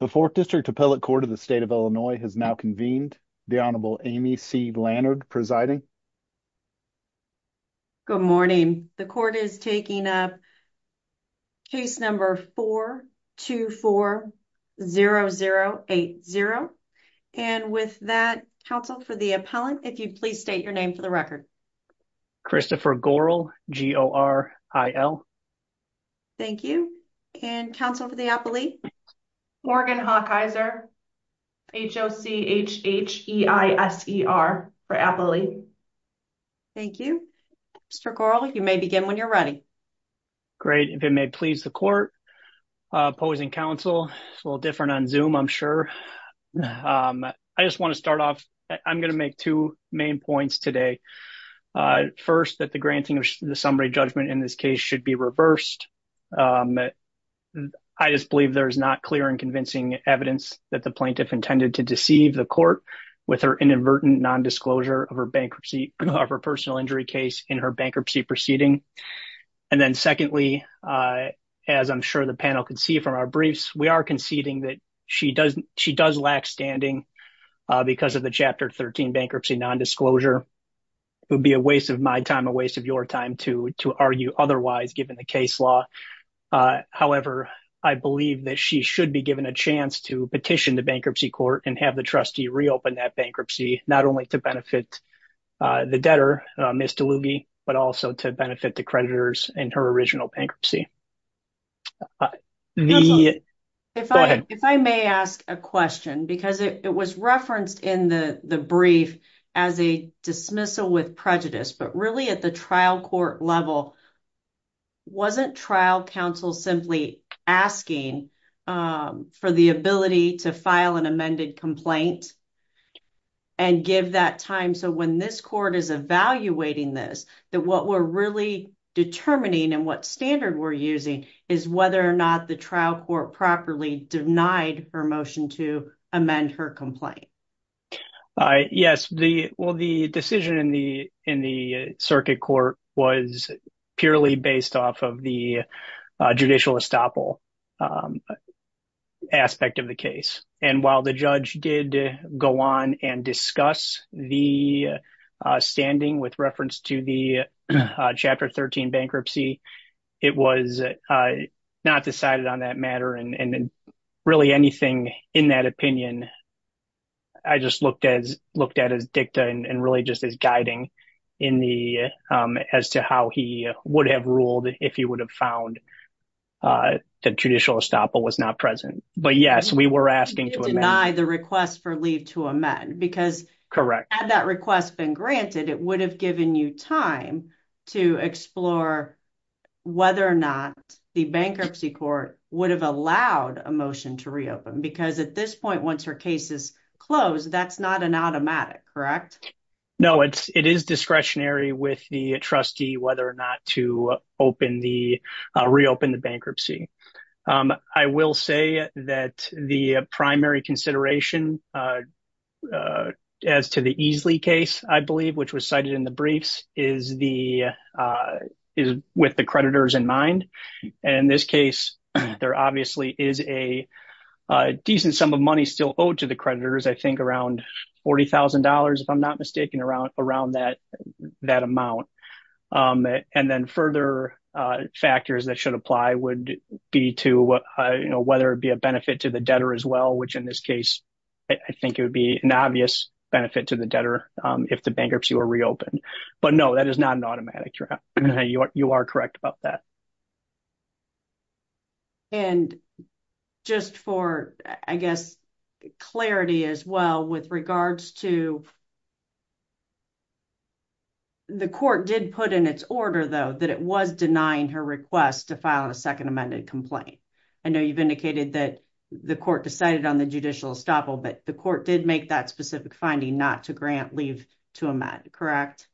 The 4th District Appellate Court of the State of Illinois has now convened. The Honorable Amy C. Lannard presiding. Good morning. The court is taking up case number 424-0080. And with that, counsel for the appellant, if you'd please state your name for the record. Christopher Goral, G-O-R-I-L. Thank you. And counsel for the appellate? Morgan Hawkeiser, H-O-C-H-E-I-S-E-R for appellate. Thank you. Mr. Goral, you may begin when you're ready. Great. If it may please the court, opposing counsel, a little different on Zoom, I'm sure. I just want to start off, I'm going to make two main points today. First, that the granting of the summary judgment in this case should be reversed. I just believe there is not clear and convincing evidence that the plaintiff intended to deceive the court with her inadvertent nondisclosure of her bankruptcy, of her personal injury case in her bankruptcy proceeding. And then secondly, as I'm sure the panel can see from our briefs, we are conceding that she does lack standing because of the Chapter 13 bankruptcy nondisclosure. It would be a waste of my time, a waste of your time, to argue otherwise given the case law. However, I believe that she should be given a chance to petition the bankruptcy court and have the trustee reopen that bankruptcy, not only to benefit the debtor, Ms. DeLughi, but also to benefit the creditors in her original bankruptcy. If I may ask a question, because it was referenced in the brief as a dismissal with prejudice, but really at the trial court level, wasn't trial counsel simply asking for the ability to file an amended complaint and give that time so when this court is evaluating this, that what we're really determining and what standard we're using is whether or not the trial court properly denied her motion to amend her complaint? Yes, well the decision in the circuit court was purely based off of the judicial estoppel aspect of the case. And while the judge did go on and discuss the standing with reference to the Chapter 13 bankruptcy, it was not decided on that matter and really anything in that opinion, I just looked at as dicta and really just as guiding as to how he would have ruled if he would have found the judicial estoppel was not present. But yes, we were asking to amend. You didn't deny the request for leave to amend, because had that request been granted, it would have given you time to explore whether or not the bankruptcy court would have allowed a motion to reopen. Because at this point, once her case is closed, that's not an automatic, correct? No, it is discretionary with the trustee whether or not to reopen the bankruptcy. I will say that the primary consideration as to the Easley case, I believe, which was cited in the briefs, is with the creditors in mind. And in this case, there obviously is a decent sum of money still owed to the creditors, I think around $40,000 if I'm not mistaken, around that amount. And then further factors that should apply would be to whether it be a benefit to the debtor as well, which in this case, I think it would be an obvious benefit to the debtor if the bankruptcy were reopened. But no, that is not an automatic. You are correct about that. And just for, I guess, clarity as well, with regards to the court did put in its order, though, that it was denying her request to file a second amended complaint. I know you've indicated that the court decided on the judicial estoppel, but the court did make that specific finding not to grant leave to amend, correct?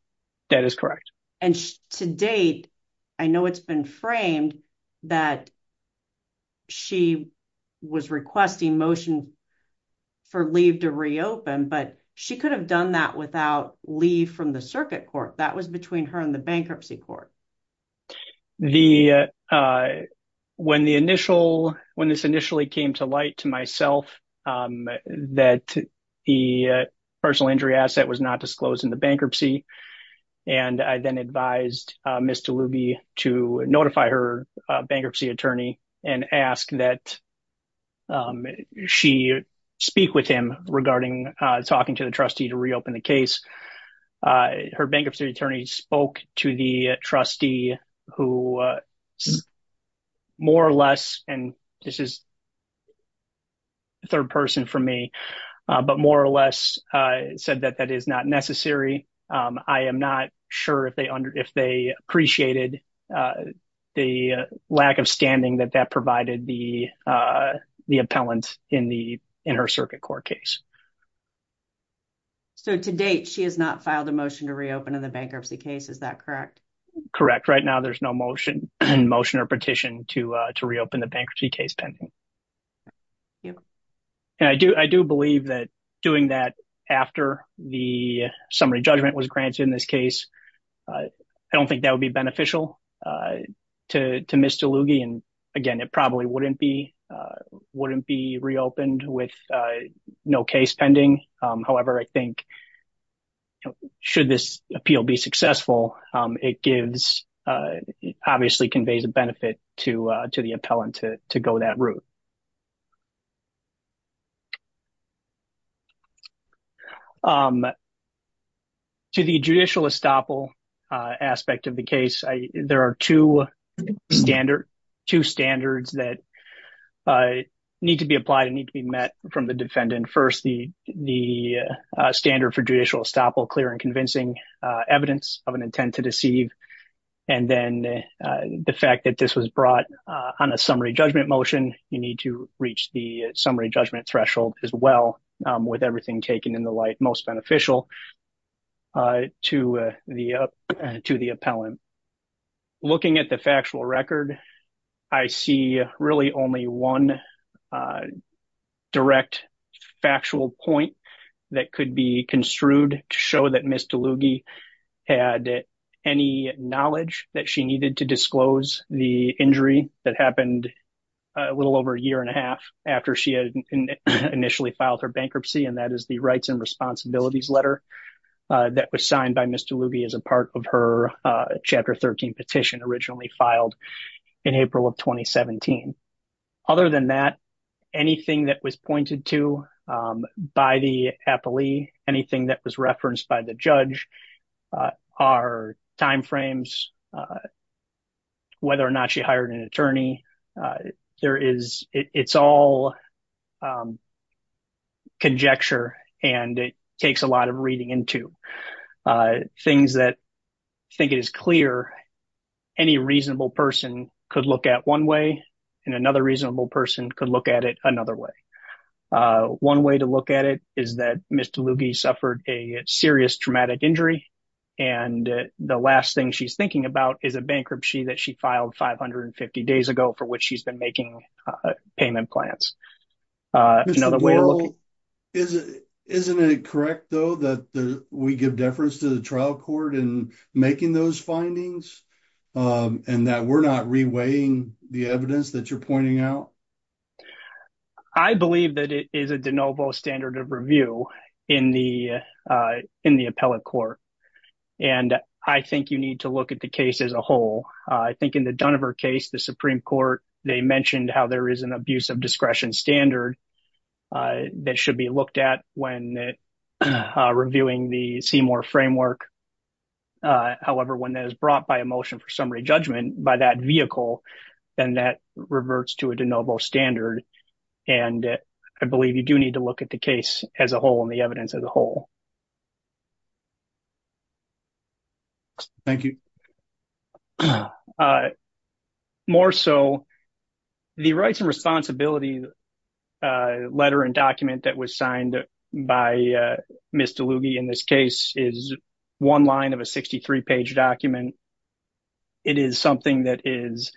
That is correct. And to date, I know it's been framed that she was requesting motion for leave to reopen, but she could have done that without leave from the circuit court. That was between her and the bankruptcy court. When this initially came to light to myself that the personal injury asset was not disclosed in the bankruptcy, and I then advised Ms. DeLuby to notify her bankruptcy attorney and ask that she speak with him regarding talking to the trustee to reopen the case. Her bankruptcy attorney spoke to the trustee who more or less, and this is third person for me, but more or less said that that is not necessary. I am not sure if they appreciated the lack of standing that that provided the appellant in her circuit court case. So to date, she has not filed a motion to reopen in the bankruptcy case. Is that correct? Correct. Right now, there's no motion or petition to reopen the bankruptcy case pending. I do believe that doing that after the summary judgment was granted in this case, I don't think that would be beneficial to Ms. DeLuby. Again, it probably wouldn't be reopened with no case pending. However, I think should this appeal be successful, it obviously conveys a benefit to the appellant to go that route. To the judicial estoppel aspect of the case, there are two standards that need to be applied and need to be met from the defendant. First, the standard for judicial estoppel, clear and convincing evidence of an intent to deceive, and then the fact that this was brought on a summary judgment motion, you need to reach the summary judgment threshold as well with everything taken in the light most beneficial to the appellant. Looking at the factual record, I see really only one direct factual point that could be construed to show that Ms. DeLuby had any knowledge that she needed to disclose the injury that happened a little over a year and a half after she had initially filed her bankruptcy, and that is the Rights and Responsibilities letter that was signed by Ms. DeLuby as a part of her Chapter 13 petition originally filed in April of 2017. Other than that, anything that was pointed to by the appellee, anything that was referenced by the judge, our timeframes, whether or not she hired an attorney, it's all conjecture and it takes a lot of reading into things that I think it is clear any reasonable person could look at one way and another reasonable person could look at it another way. One way to look at it is that Ms. DeLuby suffered a serious traumatic injury and the last thing she's thinking about is a bankruptcy that she filed 550 days ago for which she's been making payment plans. Isn't it correct though that we give deference to the trial court in making those findings and that we're not reweighing the evidence that you're pointing out? I believe that it is a de novo standard of review in the appellate court and I think you need to look at the case as a whole. I think in the Duniver case, the Supreme Court, they mentioned how there is an abuse of discretion standard that should be looked at when reviewing the Seymour framework. However, when that is brought by a motion for summary judgment by that vehicle, then that reverts to a de novo standard and I believe you do need to look at the case as a whole and the evidence as a whole. Thank you. More so, the rights and responsibilities letter and document that was signed by Ms. DeLuby in this case is one line of a 63-page document. It is something that is,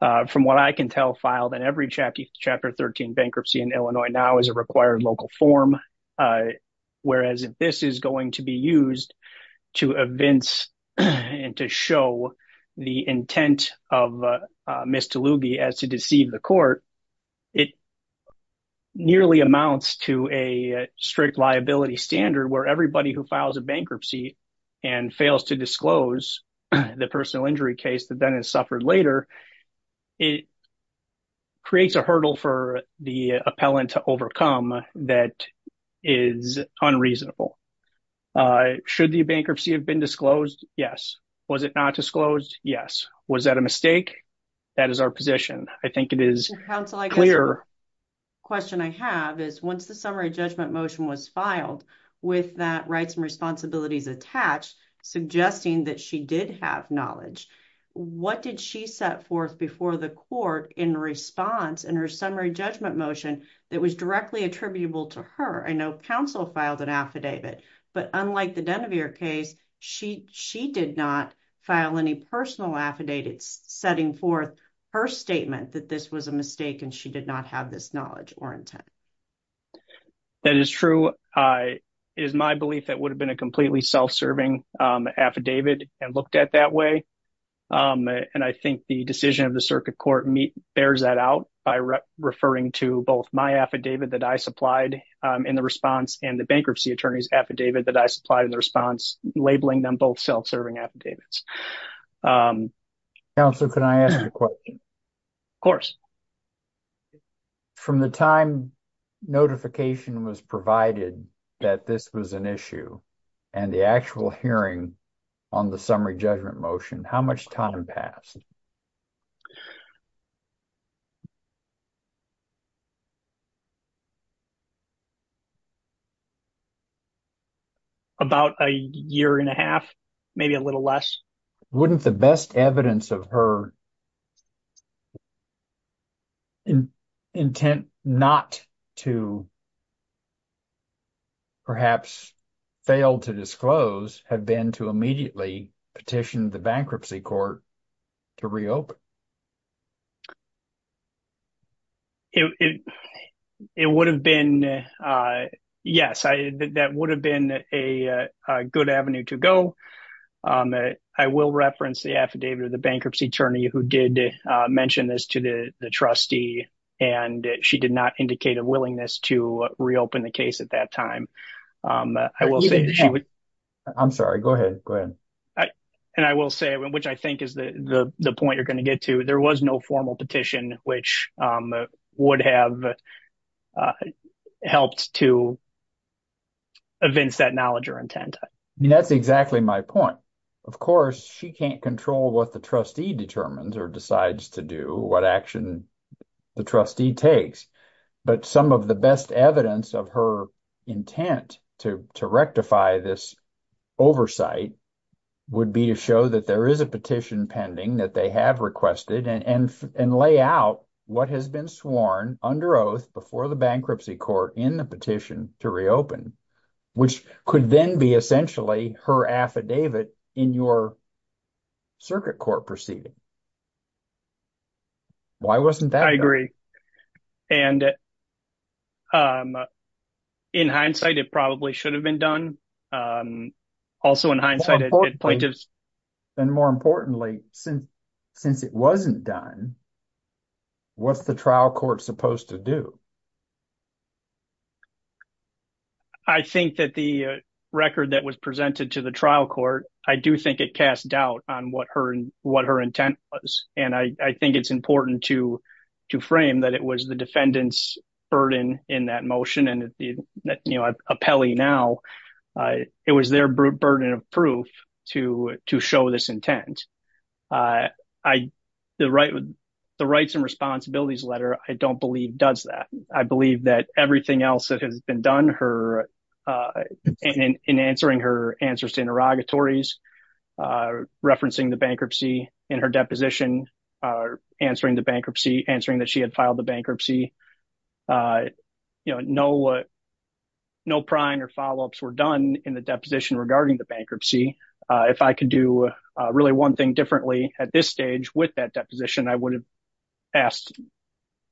from what I understand, is a requirement for 13 bankruptcy in Illinois now as a required local form. Whereas if this is going to be used to evince and to show the intent of Ms. DeLuby as to deceive the court, it nearly amounts to a strict liability standard where everybody who files a bankruptcy and fails to disclose the personal injury case that then is suffered later, it creates a hurdle for the appellant to overcome that is unreasonable. Should the bankruptcy have been disclosed? Yes. Was it not disclosed? Yes. Was that a mistake? That is our position. I think it is clear. Once the summary judgment motion was filed with that rights and responsibilities attached, suggesting that she did have knowledge, what did she set forth before the court in response in her summary judgment motion that was directly attributable to her? I know counsel filed an affidavit, but unlike the Denevere case, she did not file any personal affidavit setting forth her statement that this was a mistake and she did not have this knowledge or intent. That is true. It is my belief that it would have been a completely self-serving affidavit and looked at that way. I think the decision of the circuit court bears that out by referring to both my affidavit that I supplied in the response and the bankruptcy attorney's affidavit that I supplied in the response, labeling them both self-serving affidavits. Counsel, can I ask a question? Of course. From the time notification was provided that this was an issue and the actual hearing on the summary judgment motion, how much time passed? About a year and a half. Maybe a little less. Wouldn't the best evidence of her intent not to perhaps fail to disclose have been to immediately petition the bankruptcy court to reopen? Yes, that would have been a good avenue to go. I will reference the affidavit of the bankruptcy attorney who did mention this to the trustee and she did not indicate a willingness to reopen the case at that time. I'm sorry, go ahead. I will say, which I think is the point you're going to get to, there was no formal petition which would have helped to evince that knowledge or intent. That's exactly my point. Of course, she can't control what the trustee determines or decides to do, what action the trustee takes, but some of the best evidence of her intent to rectify this oversight would be to show that there is a petition pending that they have requested and lay out what has been sworn under oath before the bankruptcy court in the petition to reopen, which could then be essentially her affidavit in your circuit court proceeding. Why wasn't that there? In hindsight, it probably should have been done. More importantly, since it wasn't done, what's the trial court supposed to do? I think that the record that was presented to the trial court, I do think it cast doubt on what her intent was. I think it's important to frame that it was the defendant's burden in that motion. It was their burden of proof to show this intent. The rights and responsibilities letter, I don't believe does that. I believe that everything else that has been done in answering her answers to interrogatories, referencing the bankruptcy in her deposition, answering that she had filed the bankruptcy. No prior follow-ups were done in the deposition regarding the bankruptcy. If I could do really one thing differently at this stage with that deposition, I would have asked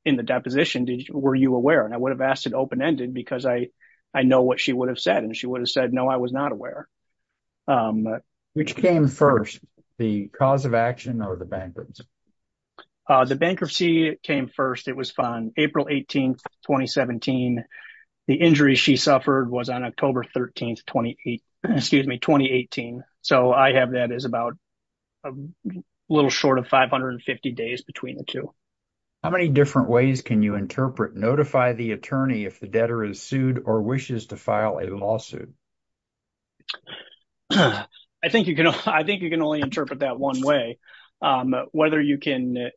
in the deposition were you aware? I would have asked it open-ended because I know what she would have said. She would have said, no, I was not aware. Which came first, the cause of action or the bankruptcy? The bankruptcy came first. It was on April 18, 2017. The injury she suffered was on October 13, 2018. I have that as about a little short of 550 days between the two. How many different ways can you interpret notify the attorney if the debtor is sued or wishes to file a lawsuit? I think you can only interpret that one way. Whether you can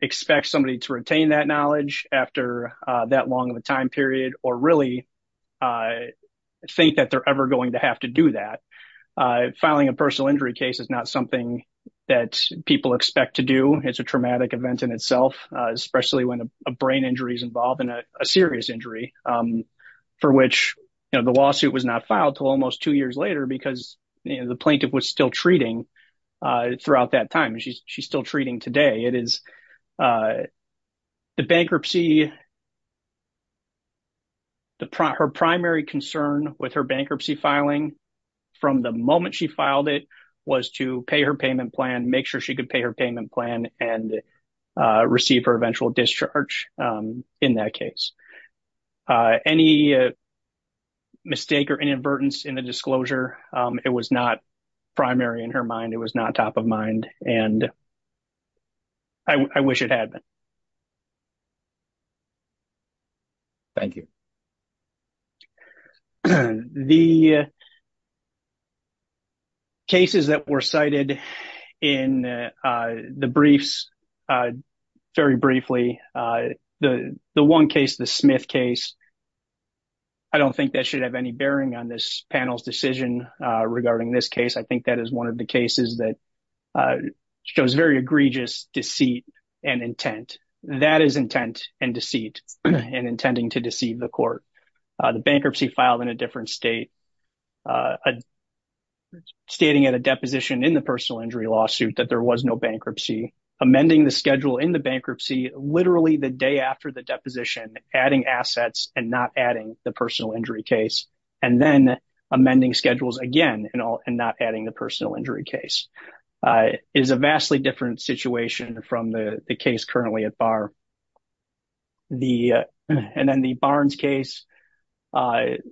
expect somebody to retain that knowledge after that long of a time period or really think that they're ever going to have to do that. Filing a personal injury case is not something that people expect to do. It's a traumatic event in itself, especially when a brain injury is involved and a serious injury for which the lawsuit was not filed until almost two years later because the plaintiff was still treating throughout that time. She's still treating today. The bankruptcy, her primary concern with her bankruptcy filing from the moment she filed it was to pay her payment plan, make sure she could pay her payment plan and receive her eventual discharge in that case. Any mistake or inadvertence in the disclosure, it was not primary in her mind. It was not top of mind. I wish it had been. Thank you. The cases that were cited in the briefs very briefly. The one case, the Smith case, I don't think that should have any bearing on this panel's decision regarding this case. I think that is one of the cases that shows very egregious deceit and intent. That is intent and deceit in intending to deceive the court. The bankruptcy filed in a different state stating at a deposition in the personal injury lawsuit that there was no schedule in the bankruptcy literally the day after the deposition adding assets and not adding the personal injury case and then amending schedules again and not adding the personal injury case. It is a vastly different situation from the case currently at Barr. And then the Barnes case,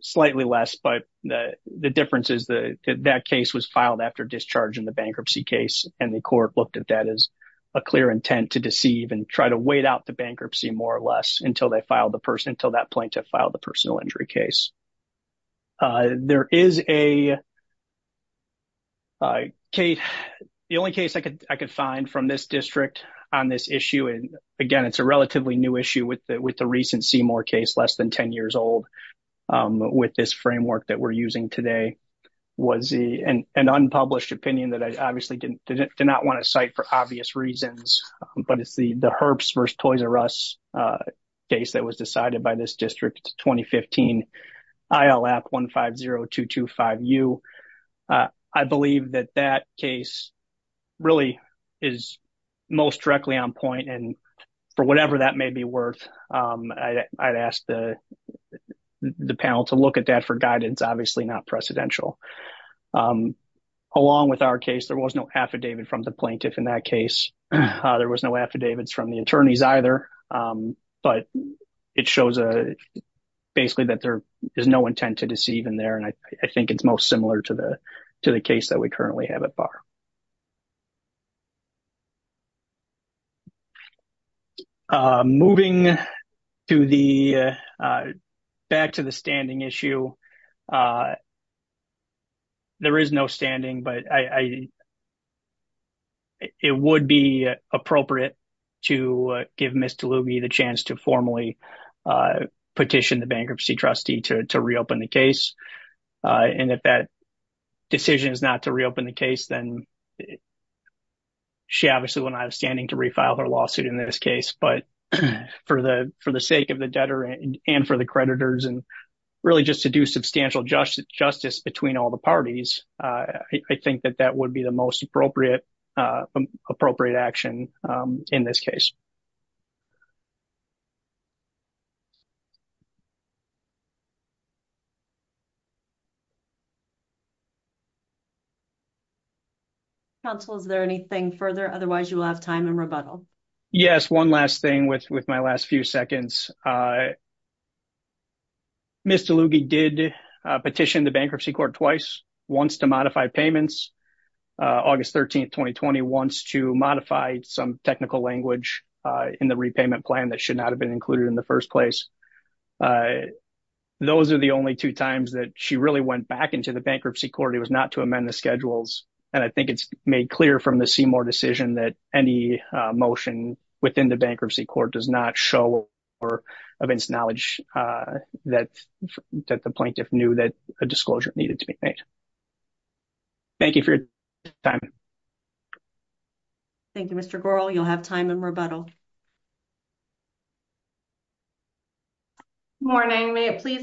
slightly less, but the difference is that case was filed after discharge in the bankruptcy case and the court looked at that as a clear intent to deceive and try to wait out the bankruptcy more or less until that plaintiff filed the personal injury case. There is a case, the only case I could find from this district on this issue, again it is a relatively new issue with the recent Seymour case less than 10 years old with this framework that we are using today was an unpublished opinion that I obviously did not want to cite for obvious reasons, but it is the Herbst v. Toys R Us case that was decided by this district. It is a 2015 ILF 150225U. I believe that that case really is most directly on point and for whatever that may be worth, I would ask the panel to look at that for guidance, obviously not precedential. Along with our case, there was no affidavit from the plaintiff in that case. There was no affidavits from the attorneys either, but it shows basically that there is no intent to deceive in there and I think it is most similar to the case that we currently have at Barr. Moving back to the standing issue, there is no standing, but it would be appropriate to give Ms. DeLuby the chance to formally petition the bankruptcy trustee to reopen the case and if that decision is not to reopen the case, then she obviously will not have standing to refile her lawsuit in this case, but for the sake of the debtor and for the creditors and really just to do substantial justice between all the parties, I think that that would be the most appropriate action in this case. Counsel, is there anything further? Otherwise, you will have time in rebuttal. Yes, one last thing with my last few seconds. Ms. DeLuby did petition the bankruptcy court twice, once to modify payments. August 13, 2020, once to modify some technical language in the repayment plan that should not have been included in the first place. Those are the only two times that she really went back into the bankruptcy court. It was not to amend the schedules and I think it is made clear from the Seymour decision that any motion within the bankruptcy court does not show or evince knowledge that the plaintiff knew that a disclosure needed to be made. Thank you for your time. Thank you, Mr. Goral. You will have time in rebuttal. May it please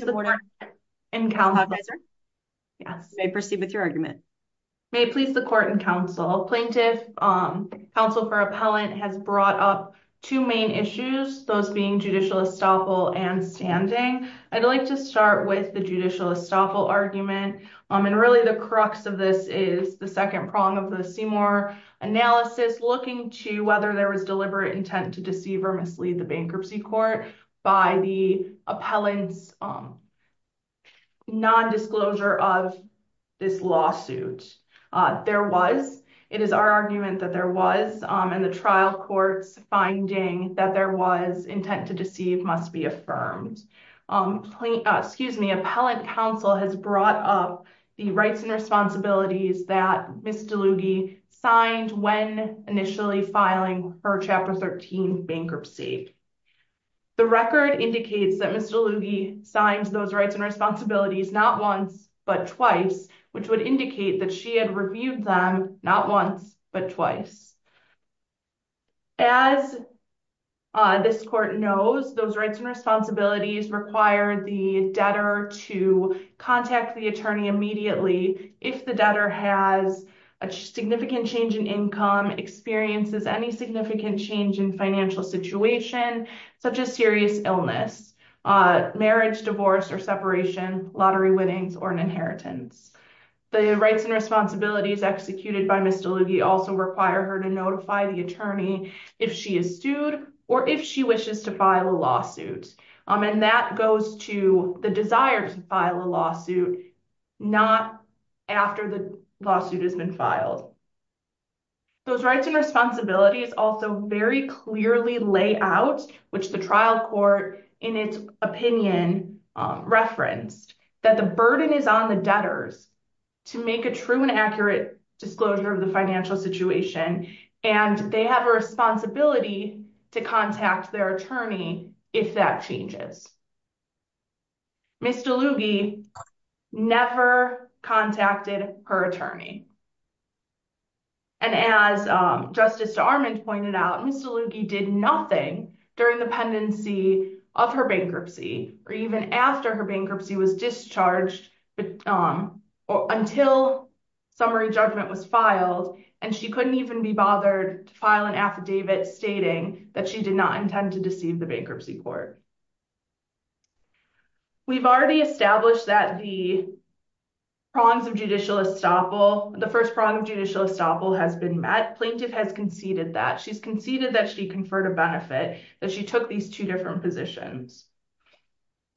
the court and counsel, plaintiff, counsel for appellant has brought up two main issues, those being judicial estoppel and standing. I would like to start with the judicial estoppel argument and really the crux of this is the second prong of the Seymour analysis looking to whether there was deliberate intent to deceive or mislead the bankruptcy court by the appellant's nondisclosure of this lawsuit. There was. It is our argument that there was in the trial court's finding that there was intent to deceive must be affirmed. Appellant counsel has brought up the rights and responsibilities that Ms. DeLughi signed when initially filing for Chapter 13 bankruptcy. The record indicates that Ms. DeLughi signed those rights and responsibilities not once but twice, which would indicate that she had reviewed them not once but twice. As this court knows, those rights and responsibilities require the debtor to contact the attorney immediately if the debtor has a significant change in income, experiences any significant change in financial situation, such as serious illness, marriage, divorce or separation, lottery winnings or an inheritance. The rights and responsibilities executed by Ms. DeLughi also require her to notify the attorney if she is sued or if she wishes to file a lawsuit. And that goes to the desire to file a lawsuit not after the lawsuit has been filed. Those rights and responsibilities also very clearly lay out, which the trial court in its opinion referenced, that the burden is on the debtors to make a true and accurate disclosure of the financial situation and they have a responsibility to contact their attorney if that changes. Ms. DeLughi never contacted her attorney. And as Justice Armand pointed out, Ms. DeLughi did nothing during the pendency of her bankruptcy or even after her bankruptcy was discharged until summary judgment was filed and she couldn't even be bothered to file an affidavit stating that she did not intend to deceive the bankruptcy court. We've already established that the prongs of judicial estoppel, the first prong of judicial estoppel has been met. Plaintiff has conceded that. She's conceded that she conferred a benefit, that she took these two different positions.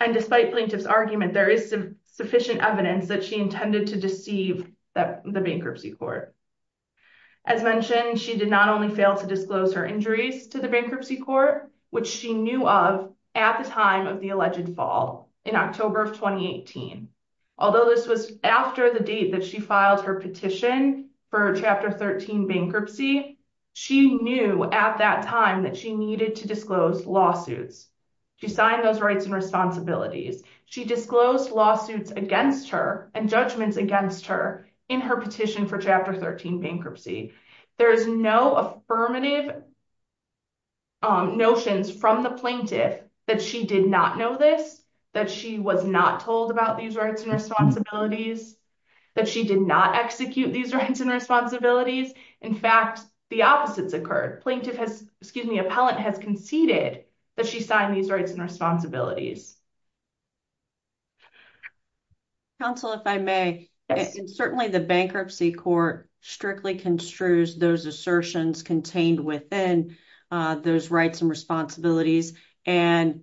And despite plaintiff's argument, there is sufficient evidence that she intended to deceive the bankruptcy court. As mentioned, she did not only fail to disclose her injuries to the bankruptcy court, which she knew of at the time of the alleged fall in October of 2018. Although this was after the date that she filed her petition for Chapter 13 bankruptcy, she knew at that time that she needed to disclose lawsuits. She signed those rights and responsibilities. She disclosed lawsuits against her and judgments against her in her petition for Chapter 13 bankruptcy. There is no affirmative notions from the plaintiff that she did not know this, that she was not told about these rights and responsibilities, that she did not execute these rights and responsibilities. In fact, the opposites occurred. Plaintiff has, excuse me, appellant has conceded that she signed these rights and responsibilities. Counsel, if I may, certainly the bankruptcy court strictly construes those assertions contained within those rights and responsibilities and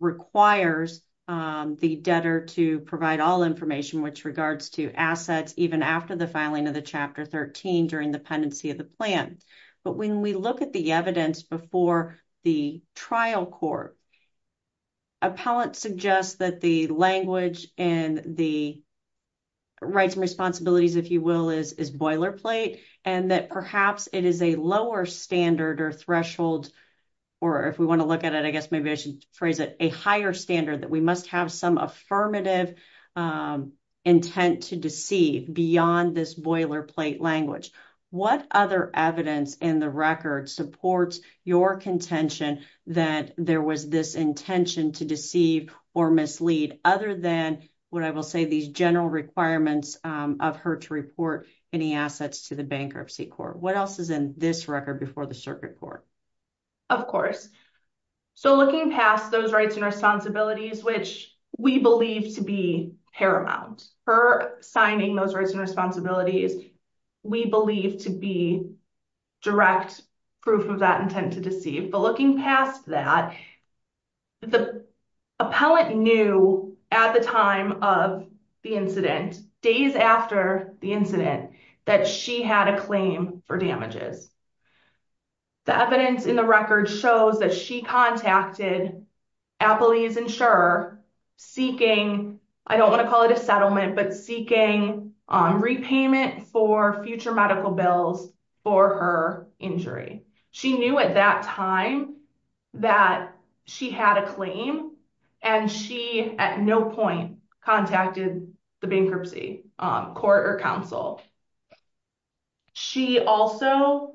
requires the debtor to provide all information with regards to assets even after the filing of the Chapter 13 during the pendency of the plan. But when we look at the evidence before the trial court, appellant suggests that the language in the rights and responsibilities, if you will, is boilerplate and that perhaps it is a lower standard or threshold, or if we want to look at it, I guess maybe I should phrase it, a higher standard that we must have some affirmative intent to deceive beyond this boilerplate language. What other evidence in the record supports your contention that there was this intention to deceive or mislead other than what I will say these general requirements of her to report any assets to the bankruptcy court? What else is in this record before the circuit court? Of course. So looking past those rights and responsibilities, which we believe to be paramount, her signing those rights and responsibilities, we believe to be direct proof of that intent to deceive. But looking past that, the appellant knew at the time of the incident, days after the incident, that she had a claim for damages. The evidence in the record shows that she contacted Appley's insurer seeking I don't want to call it a settlement, but seeking repayment for future medical bills for her injury. She knew at that time that she had a claim and she at no point contacted the bankruptcy court or council. She also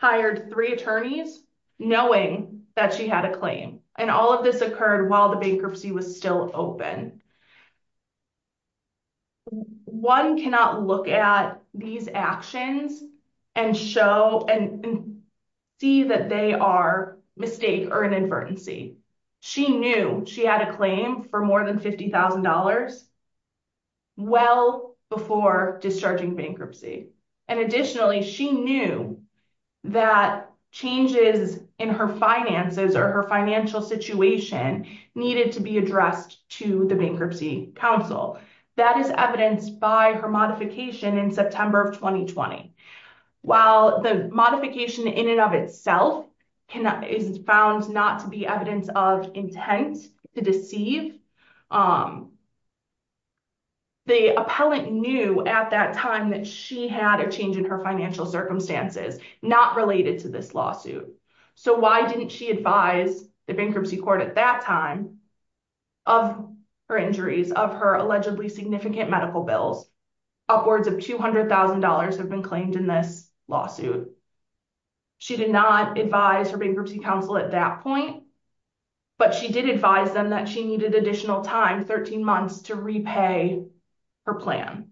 hired three attorneys knowing that she had a claim. And all of this occurred while the bankruptcy was still open. One cannot look at these actions and show and see that they are mistake or an advertency. She knew she had a claim for more than $50,000 well before discharging bankruptcy. And additionally, she knew that changes in her finances or her financial situation needed to be addressed to the bankruptcy council. That is evidenced by her modification in September of 2020. While the modification in and of itself is found not to be evidence of intent to deceive, the appellant knew at that time that she had a change in her financial circumstances not related to this lawsuit. So why didn't she advise the bankruptcy court at that time of her injuries, of her allegedly significant medical bills? Upwards of $200,000 have been claimed in this lawsuit. She did not advise her bankruptcy council at that point, but she did advise them that she needed additional time, 13 months, to repay her plan.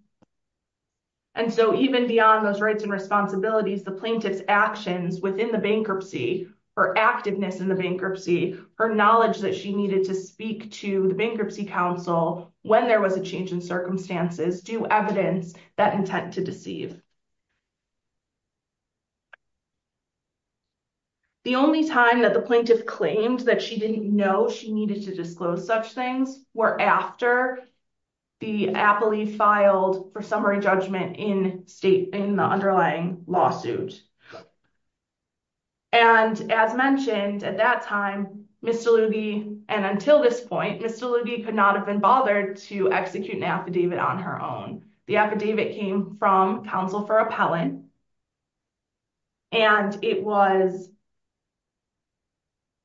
And so even beyond those rights and responsibilities, the plaintiff's actions within the bankruptcy, her activeness in the bankruptcy, her knowledge that she needed to speak to the bankruptcy council when there was a change in circumstances do evidence that intent to deceive. The only time that the plaintiff claimed that she didn't know she needed to disclose such things were after the appellee filed for summary judgment in the underlying lawsuit. And as mentioned at that time, Mr. Lubey and until this point, Mr. Lubey could not have been bothered to execute an affidavit on her own. The affidavit came from counsel for appellant and it was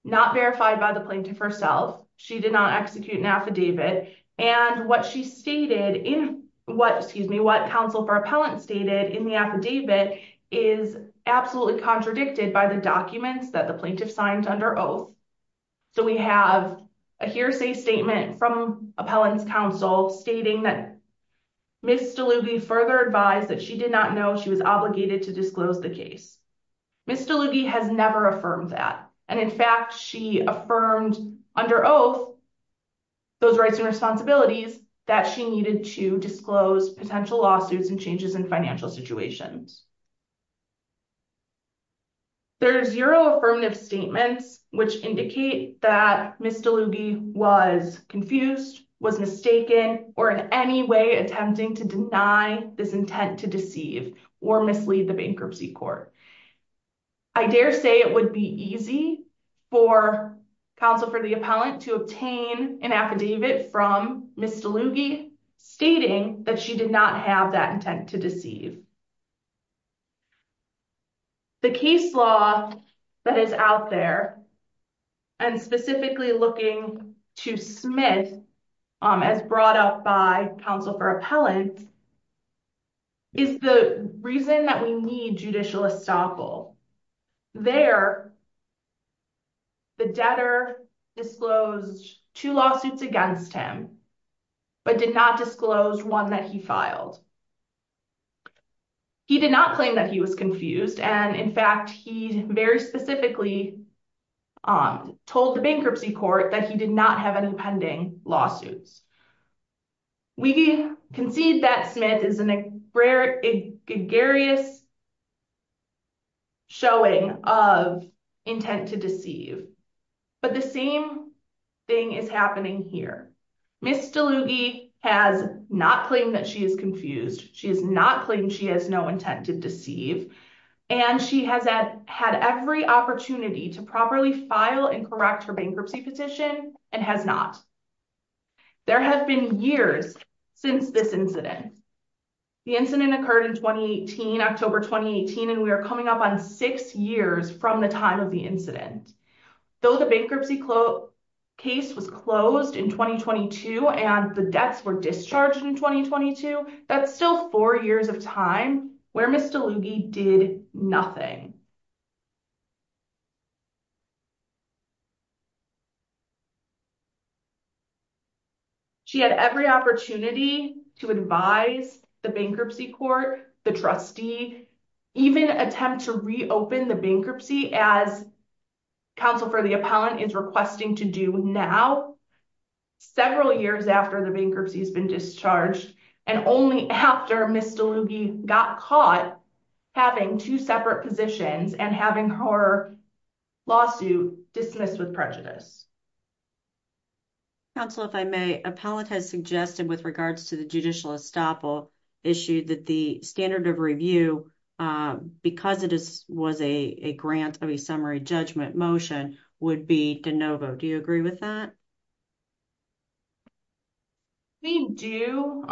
not verified by the plaintiff herself. She did not execute an affidavit and what she stated in what counsel for appellant stated in the affidavit is absolutely contradicted by the documents that the plaintiff signed under oath. So we have a hearsay statement from appellant's counsel stating that Mr. Lubey further advised that she did not know she was obligated to disclose the case. Mr. Lubey has never affirmed that. And in fact, she affirmed under oath those rights and responsibilities that she needed to disclose potential lawsuits and changes in financial situations. There are zero affirmative statements which indicate that Mr. Lubey was confused, was mistaken, or in any way attempting to deny this intent to deceive or mislead the bankruptcy court. I dare say it would be easy for counsel for the appellant to obtain an affidavit from Mr. Lubey stating that she did not have that intent to deceive. The case law that is out there and specifically looking to Smith as brought up by counsel for appellant is the reason that we need judicial estoppel. There, the debtor disclosed two lawsuits against him but did not disclose one that he filed. He did not claim that he was confused. And in fact, he very specifically told the bankruptcy court that he did not have any pending lawsuits. We concede that Smith is a gregarious showing of intent to deceive. But the same thing is happening here. Ms. DeLuge has not claimed that she is confused. She has not claimed she has no intent to deceive. And she has had every opportunity to properly file and correct her bankruptcy petition and has not. There have been years since this incident. The incident occurred in 2018, October 2018, and we are coming up on six years from the time of the incident. Though the bankruptcy case was closed in 2022 and the debts were discharged in 2022, that's still four years of time where Ms. DeLuge did nothing. She had every opportunity to advise the bankruptcy court, the trustee, even attempt to reopen the bankruptcy as counsel for the appellant is requesting to do now several years after the bankruptcy has been discharged and only after Ms. DeLuge got caught having two separate positions and having her lawsuit dismissed with prejudice. Appellant has suggested with regards to the judicial estoppel issue that the standard of review, because it was a grant of a summary judgment motion, would be de novo. Do you agree with that? We do.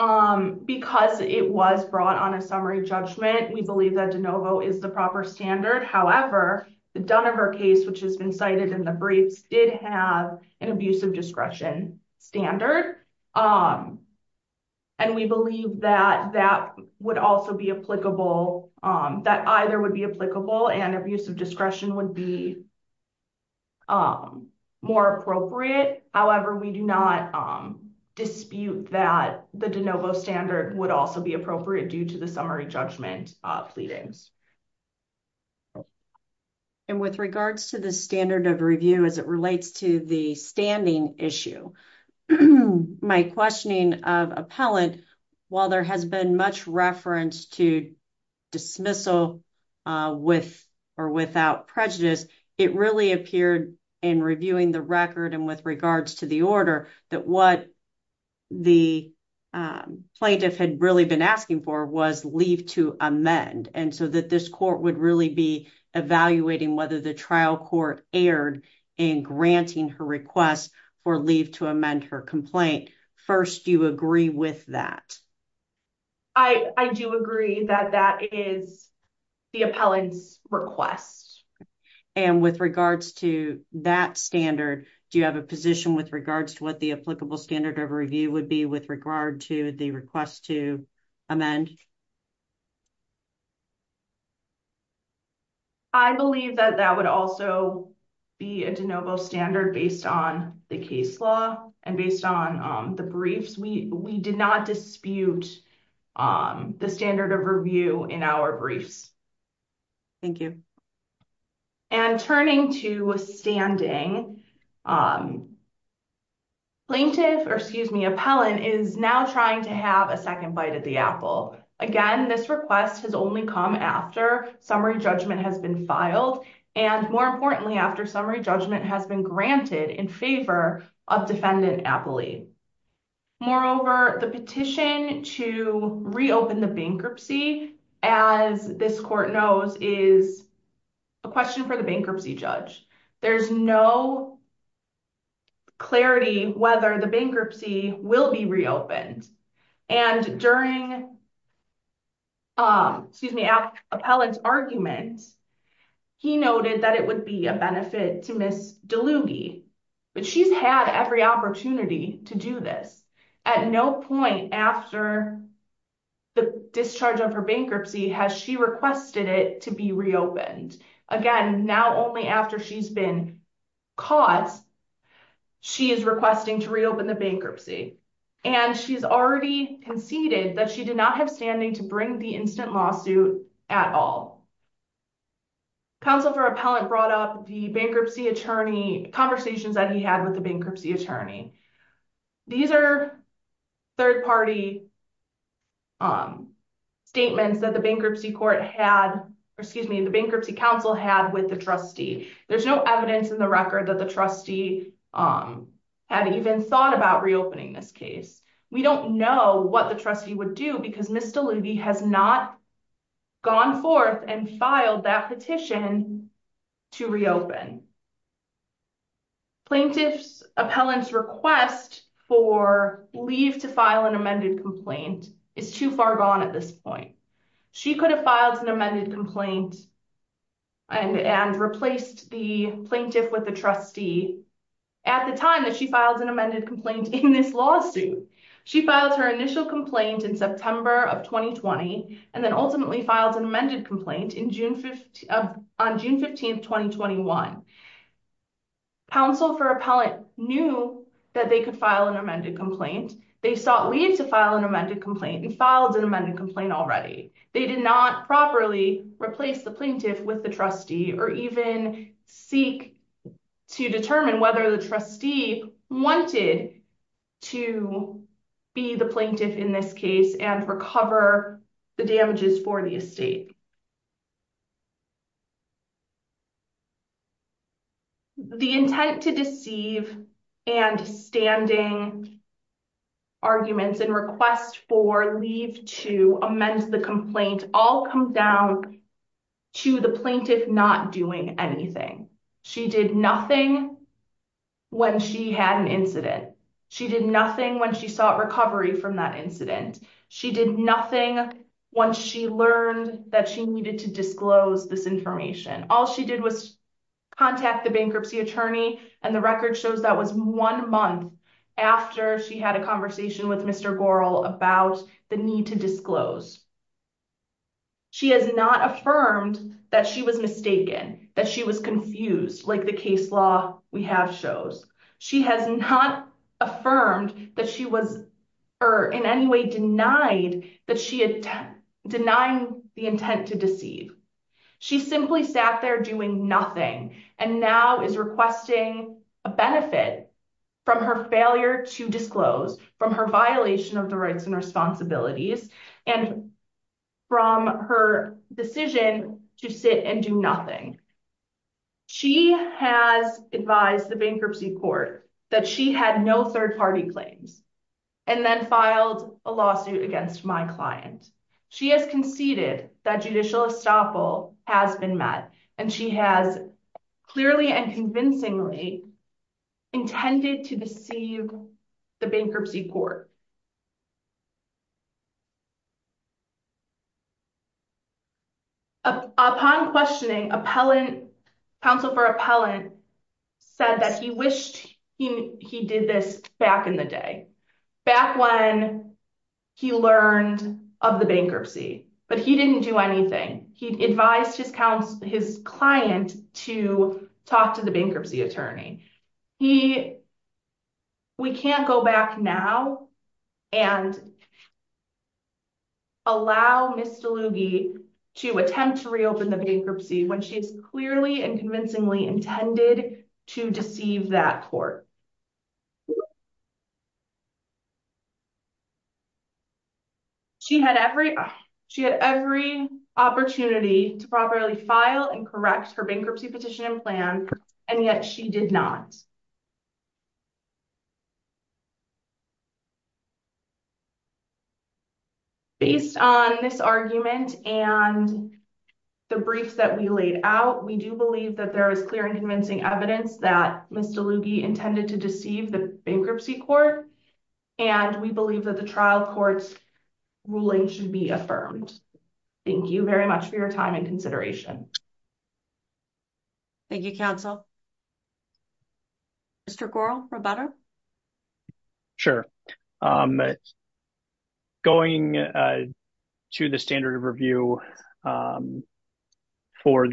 Because it was brought on a summary judgment, we believe that de novo is the proper standard. However, the Dunover case, which has been cited in the briefs, did have an abuse of discretion standard. And we believe that that either would be applicable and abuse of discretion would be more appropriate. However, we do not dispute that the de novo standard would also be appropriate due to the summary judgment pleadings. And with regards to the standard of review as it relates to the filing issue, my questioning of appellant, while there has been much reference to dismissal with or without prejudice, it really appeared in reviewing the record and with regards to the order that what the plaintiff had really been asking for was leave to amend and so that this court would really be evaluating whether the trial court erred in granting her request for leave to amend her complaint. First, do you agree with that? I do agree that that is the appellant's request. And with regards to that standard, do you have a position with regards to what the applicable standard of review would be with regard to the request to amend? I believe that that would also be a de novo standard based on the case law and based on the briefs. We did not dispute the standard of review in our briefs. Thank you. And turning to standing, plaintiff, or excuse me, appellant is now trying to have a second bite at the apple. Again, this request has only come after summary judgment has been filed and more importantly, after summary judgment has been granted in favor of defendant appellee. Moreover, the petition to reopen the bankruptcy as this court knows is a question for the bankruptcy judge. There's no clarity whether the bankruptcy will be reopened. And during appellant's argument, he noted that it would be a benefit to Ms. DeLuge, but she's had every opportunity to do this. At no point after the discharge of her bankruptcy has she requested it to be reopened. Again, now only after she's been caught, she is requesting to reopen the bankruptcy. And she's already conceded that she did not have standing to bring the instant lawsuit at all. Counsel for appellant brought up the bankruptcy attorney, conversations that he had with the bankruptcy attorney. These are third party statements that the bankruptcy court had, or excuse me, the bankruptcy counsel had with the trustee. There's no evidence in the record that the trustee had even thought about reopening this case. We don't know what the trustee would do because Ms. DeLuge has not gone forth and filed that petition to reopen. Plaintiff's appellant's request for leave to file an amended complaint is too far gone at this point. She could have filed an amended complaint and replaced the plaintiff with the trustee at the time that she filed an amended complaint in this lawsuit. She filed her initial complaint in September of 2020 and then ultimately filed an amended complaint on June 15, 2021. Counsel for appellant knew that they could file an amended complaint. They sought leave to file an amended complaint and filed an amended complaint already. They did not properly replace the plaintiff with the trustee or even seek to determine whether the trustee wanted to be the plaintiff in this case and recover the damages for the estate. The intent to deceive and standing arguments and requests for leave to amend the complaint all come down to the plaintiff not doing anything. She did nothing when she had an incident. She did nothing when she sought recovery from that incident. She did nothing once she learned that she needed to disclose this information. All she did was contact the bankruptcy attorney and the record shows that was one month after she had a conversation with Mr. Goral about the need to disclose. She has not affirmed that she was mistaken, that she was confused like the case law we have shows. She has not affirmed that she was in any way denied that she had denied the intent to deceive. She simply sat there doing nothing and now is requesting a benefit from her failure to disclose, from her violation of the rights and from her decision to sit and do nothing. She has advised the bankruptcy court that she had no third-party claims and then filed a lawsuit against my client. She has conceded that judicial estoppel has been met and she has clearly and convincingly intended to deceive the bankruptcy court. Upon questioning, counsel for appellant said that he wished he did this back in the day, back when he learned of the bankruptcy, but he didn't do anything. He advised his client to talk to the bankruptcy attorney. We can't go back now and allow Ms. DeLughi to attempt to reopen the bankruptcy when she is clearly and convincingly intended to deceive that court. She had every opportunity to properly file and correct her bankruptcy petition and plan and yet she did not. Based on this argument and the briefs that we laid out, we do believe that there is clear and convincing evidence that Ms. DeLughi intended to deceive the bankruptcy court and we believe that the trial court's ruling should be affirmed. Thank you very much for your time and consideration. Thank you, counsel. Mr. Goral, Roberta? Sure. Going to the standard of review for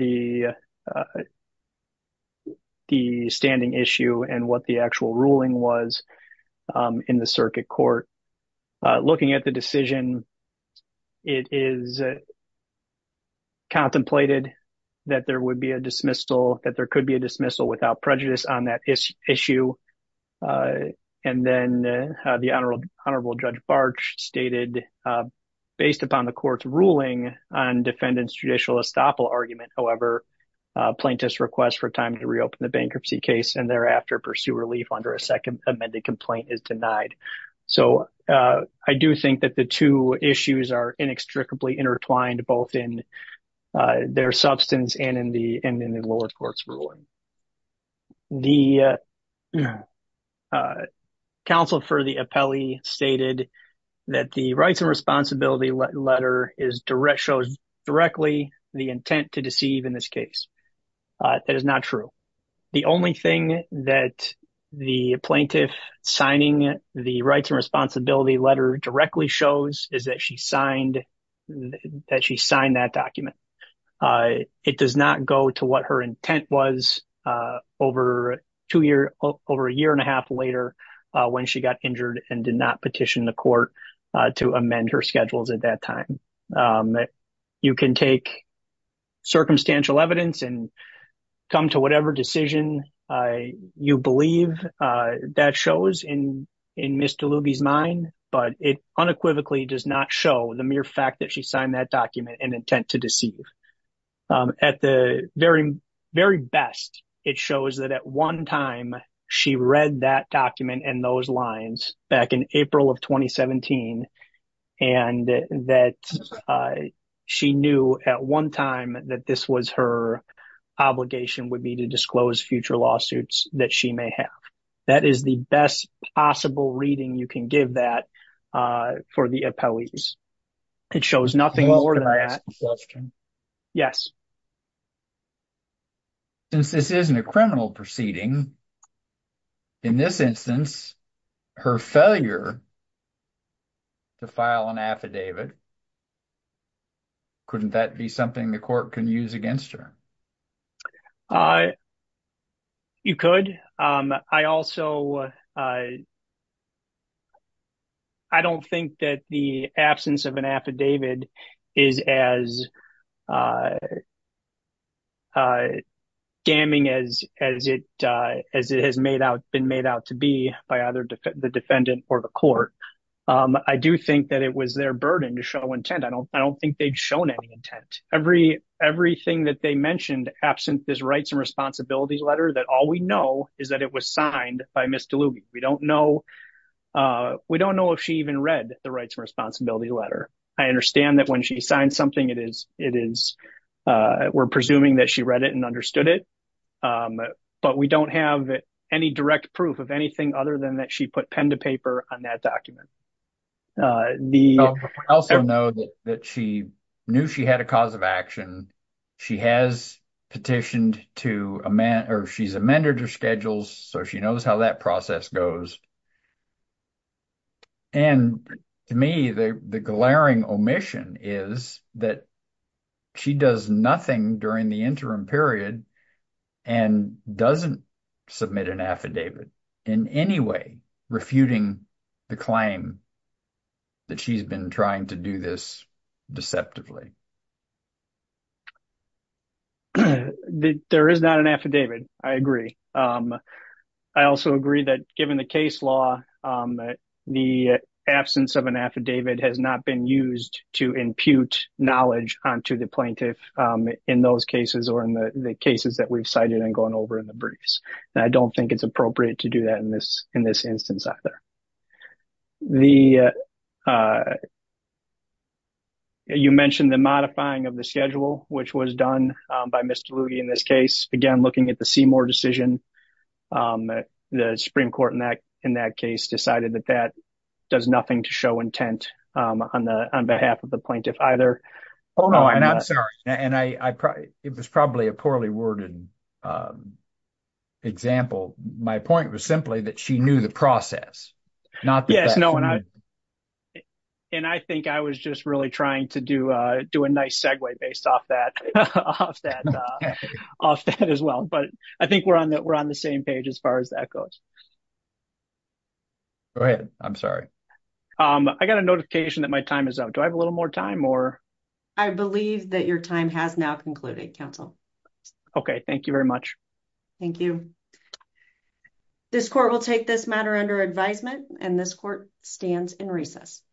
the standing issue and what the actual ruling was in the circuit court, looking at the decision, it is contemplated that there would be a dismissal, that there could be a dismissal without prejudice on that issue and then the Honorable Judge Barch stated, based upon the court's ruling on defendant's judicial estoppel argument, however, plaintiffs request for time to reopen the bankruptcy case and thereafter pursue relief under a second amended complaint is denied. So, I do think that the two issues are inextricably intertwined both in their substance and in the lower court's ruling. The counsel for the appellee stated that the rights and responsibility letter shows directly the intent to deceive in this case. That is not true. The only thing that the plaintiff signing the rights and responsibility letter directly shows is that she signed that document. It does not go to what her intent was over a year and a half later when she got injured and did not petition the court to amend her schedules at that time. You can take circumstantial evidence and come to whatever decision you believe that shows in Ms. Diluby's mind, but it unequivocally does not show the mere fact that she signed that document in intent to deceive. At the very best, it shows that at one time she read that document and those lines back in April of 2017 and that she knew at one time that this was her obligation would be to disclose future lawsuits that she may have. That is the best possible reading you can give that for the appellees. It shows nothing more than that. Since this isn't a criminal proceeding, in this instance, her failure to file an affidavit, couldn't that be something the court can use against her? You could. I also don't think that the absence of an affidavit is as damning as it has been made out to be by either the defendant or the court. I do think that it was their burden to show intent. I don't think they've shown any intent. Everything that they mentioned absent this rights and responsibilities letter that all we know is that it was signed by Ms. DeLube. We don't know if she even read the rights and responsibilities letter. I understand that when she signed something, we're presuming that she read it and understood it, but we don't have any direct proof of anything other than that she put pen to paper on that document. I also know that she knew she had a cause of action. She has petitioned to amend or she's amended her schedules, so she knows how that process goes. To me, the glaring omission is that she does nothing during the interim period and doesn't submit an affidavit in any way refuting the claim that she's been trying to do this deceptively. There is not an affidavit. I agree. I also agree that given the case law, the absence of an affidavit has not been used to impute knowledge onto the plaintiff in those cases or in the cases that we've cited and gone over in the briefs. I don't think it's appropriate to do that in this instance either. You mentioned the modifying of the schedule, which was done by Mr. Lutie in this case. Again, looking at the Seymour decision, the Supreme Court in that case decided that that does nothing to show intent on behalf of the plaintiff either. I'm sorry. It was probably a poorly worded example. My point was simply that she knew the process. I think I was just really trying to do a nice segue based off that as well. I think we're on the same page as far as that goes. Go ahead. I'm sorry. I got a notification that my time is up. Do I have a little more time? I believe that your time has now concluded, counsel. Okay. Thank you very much. Thank you. This court will take this matter under advisement and this court stands in recess.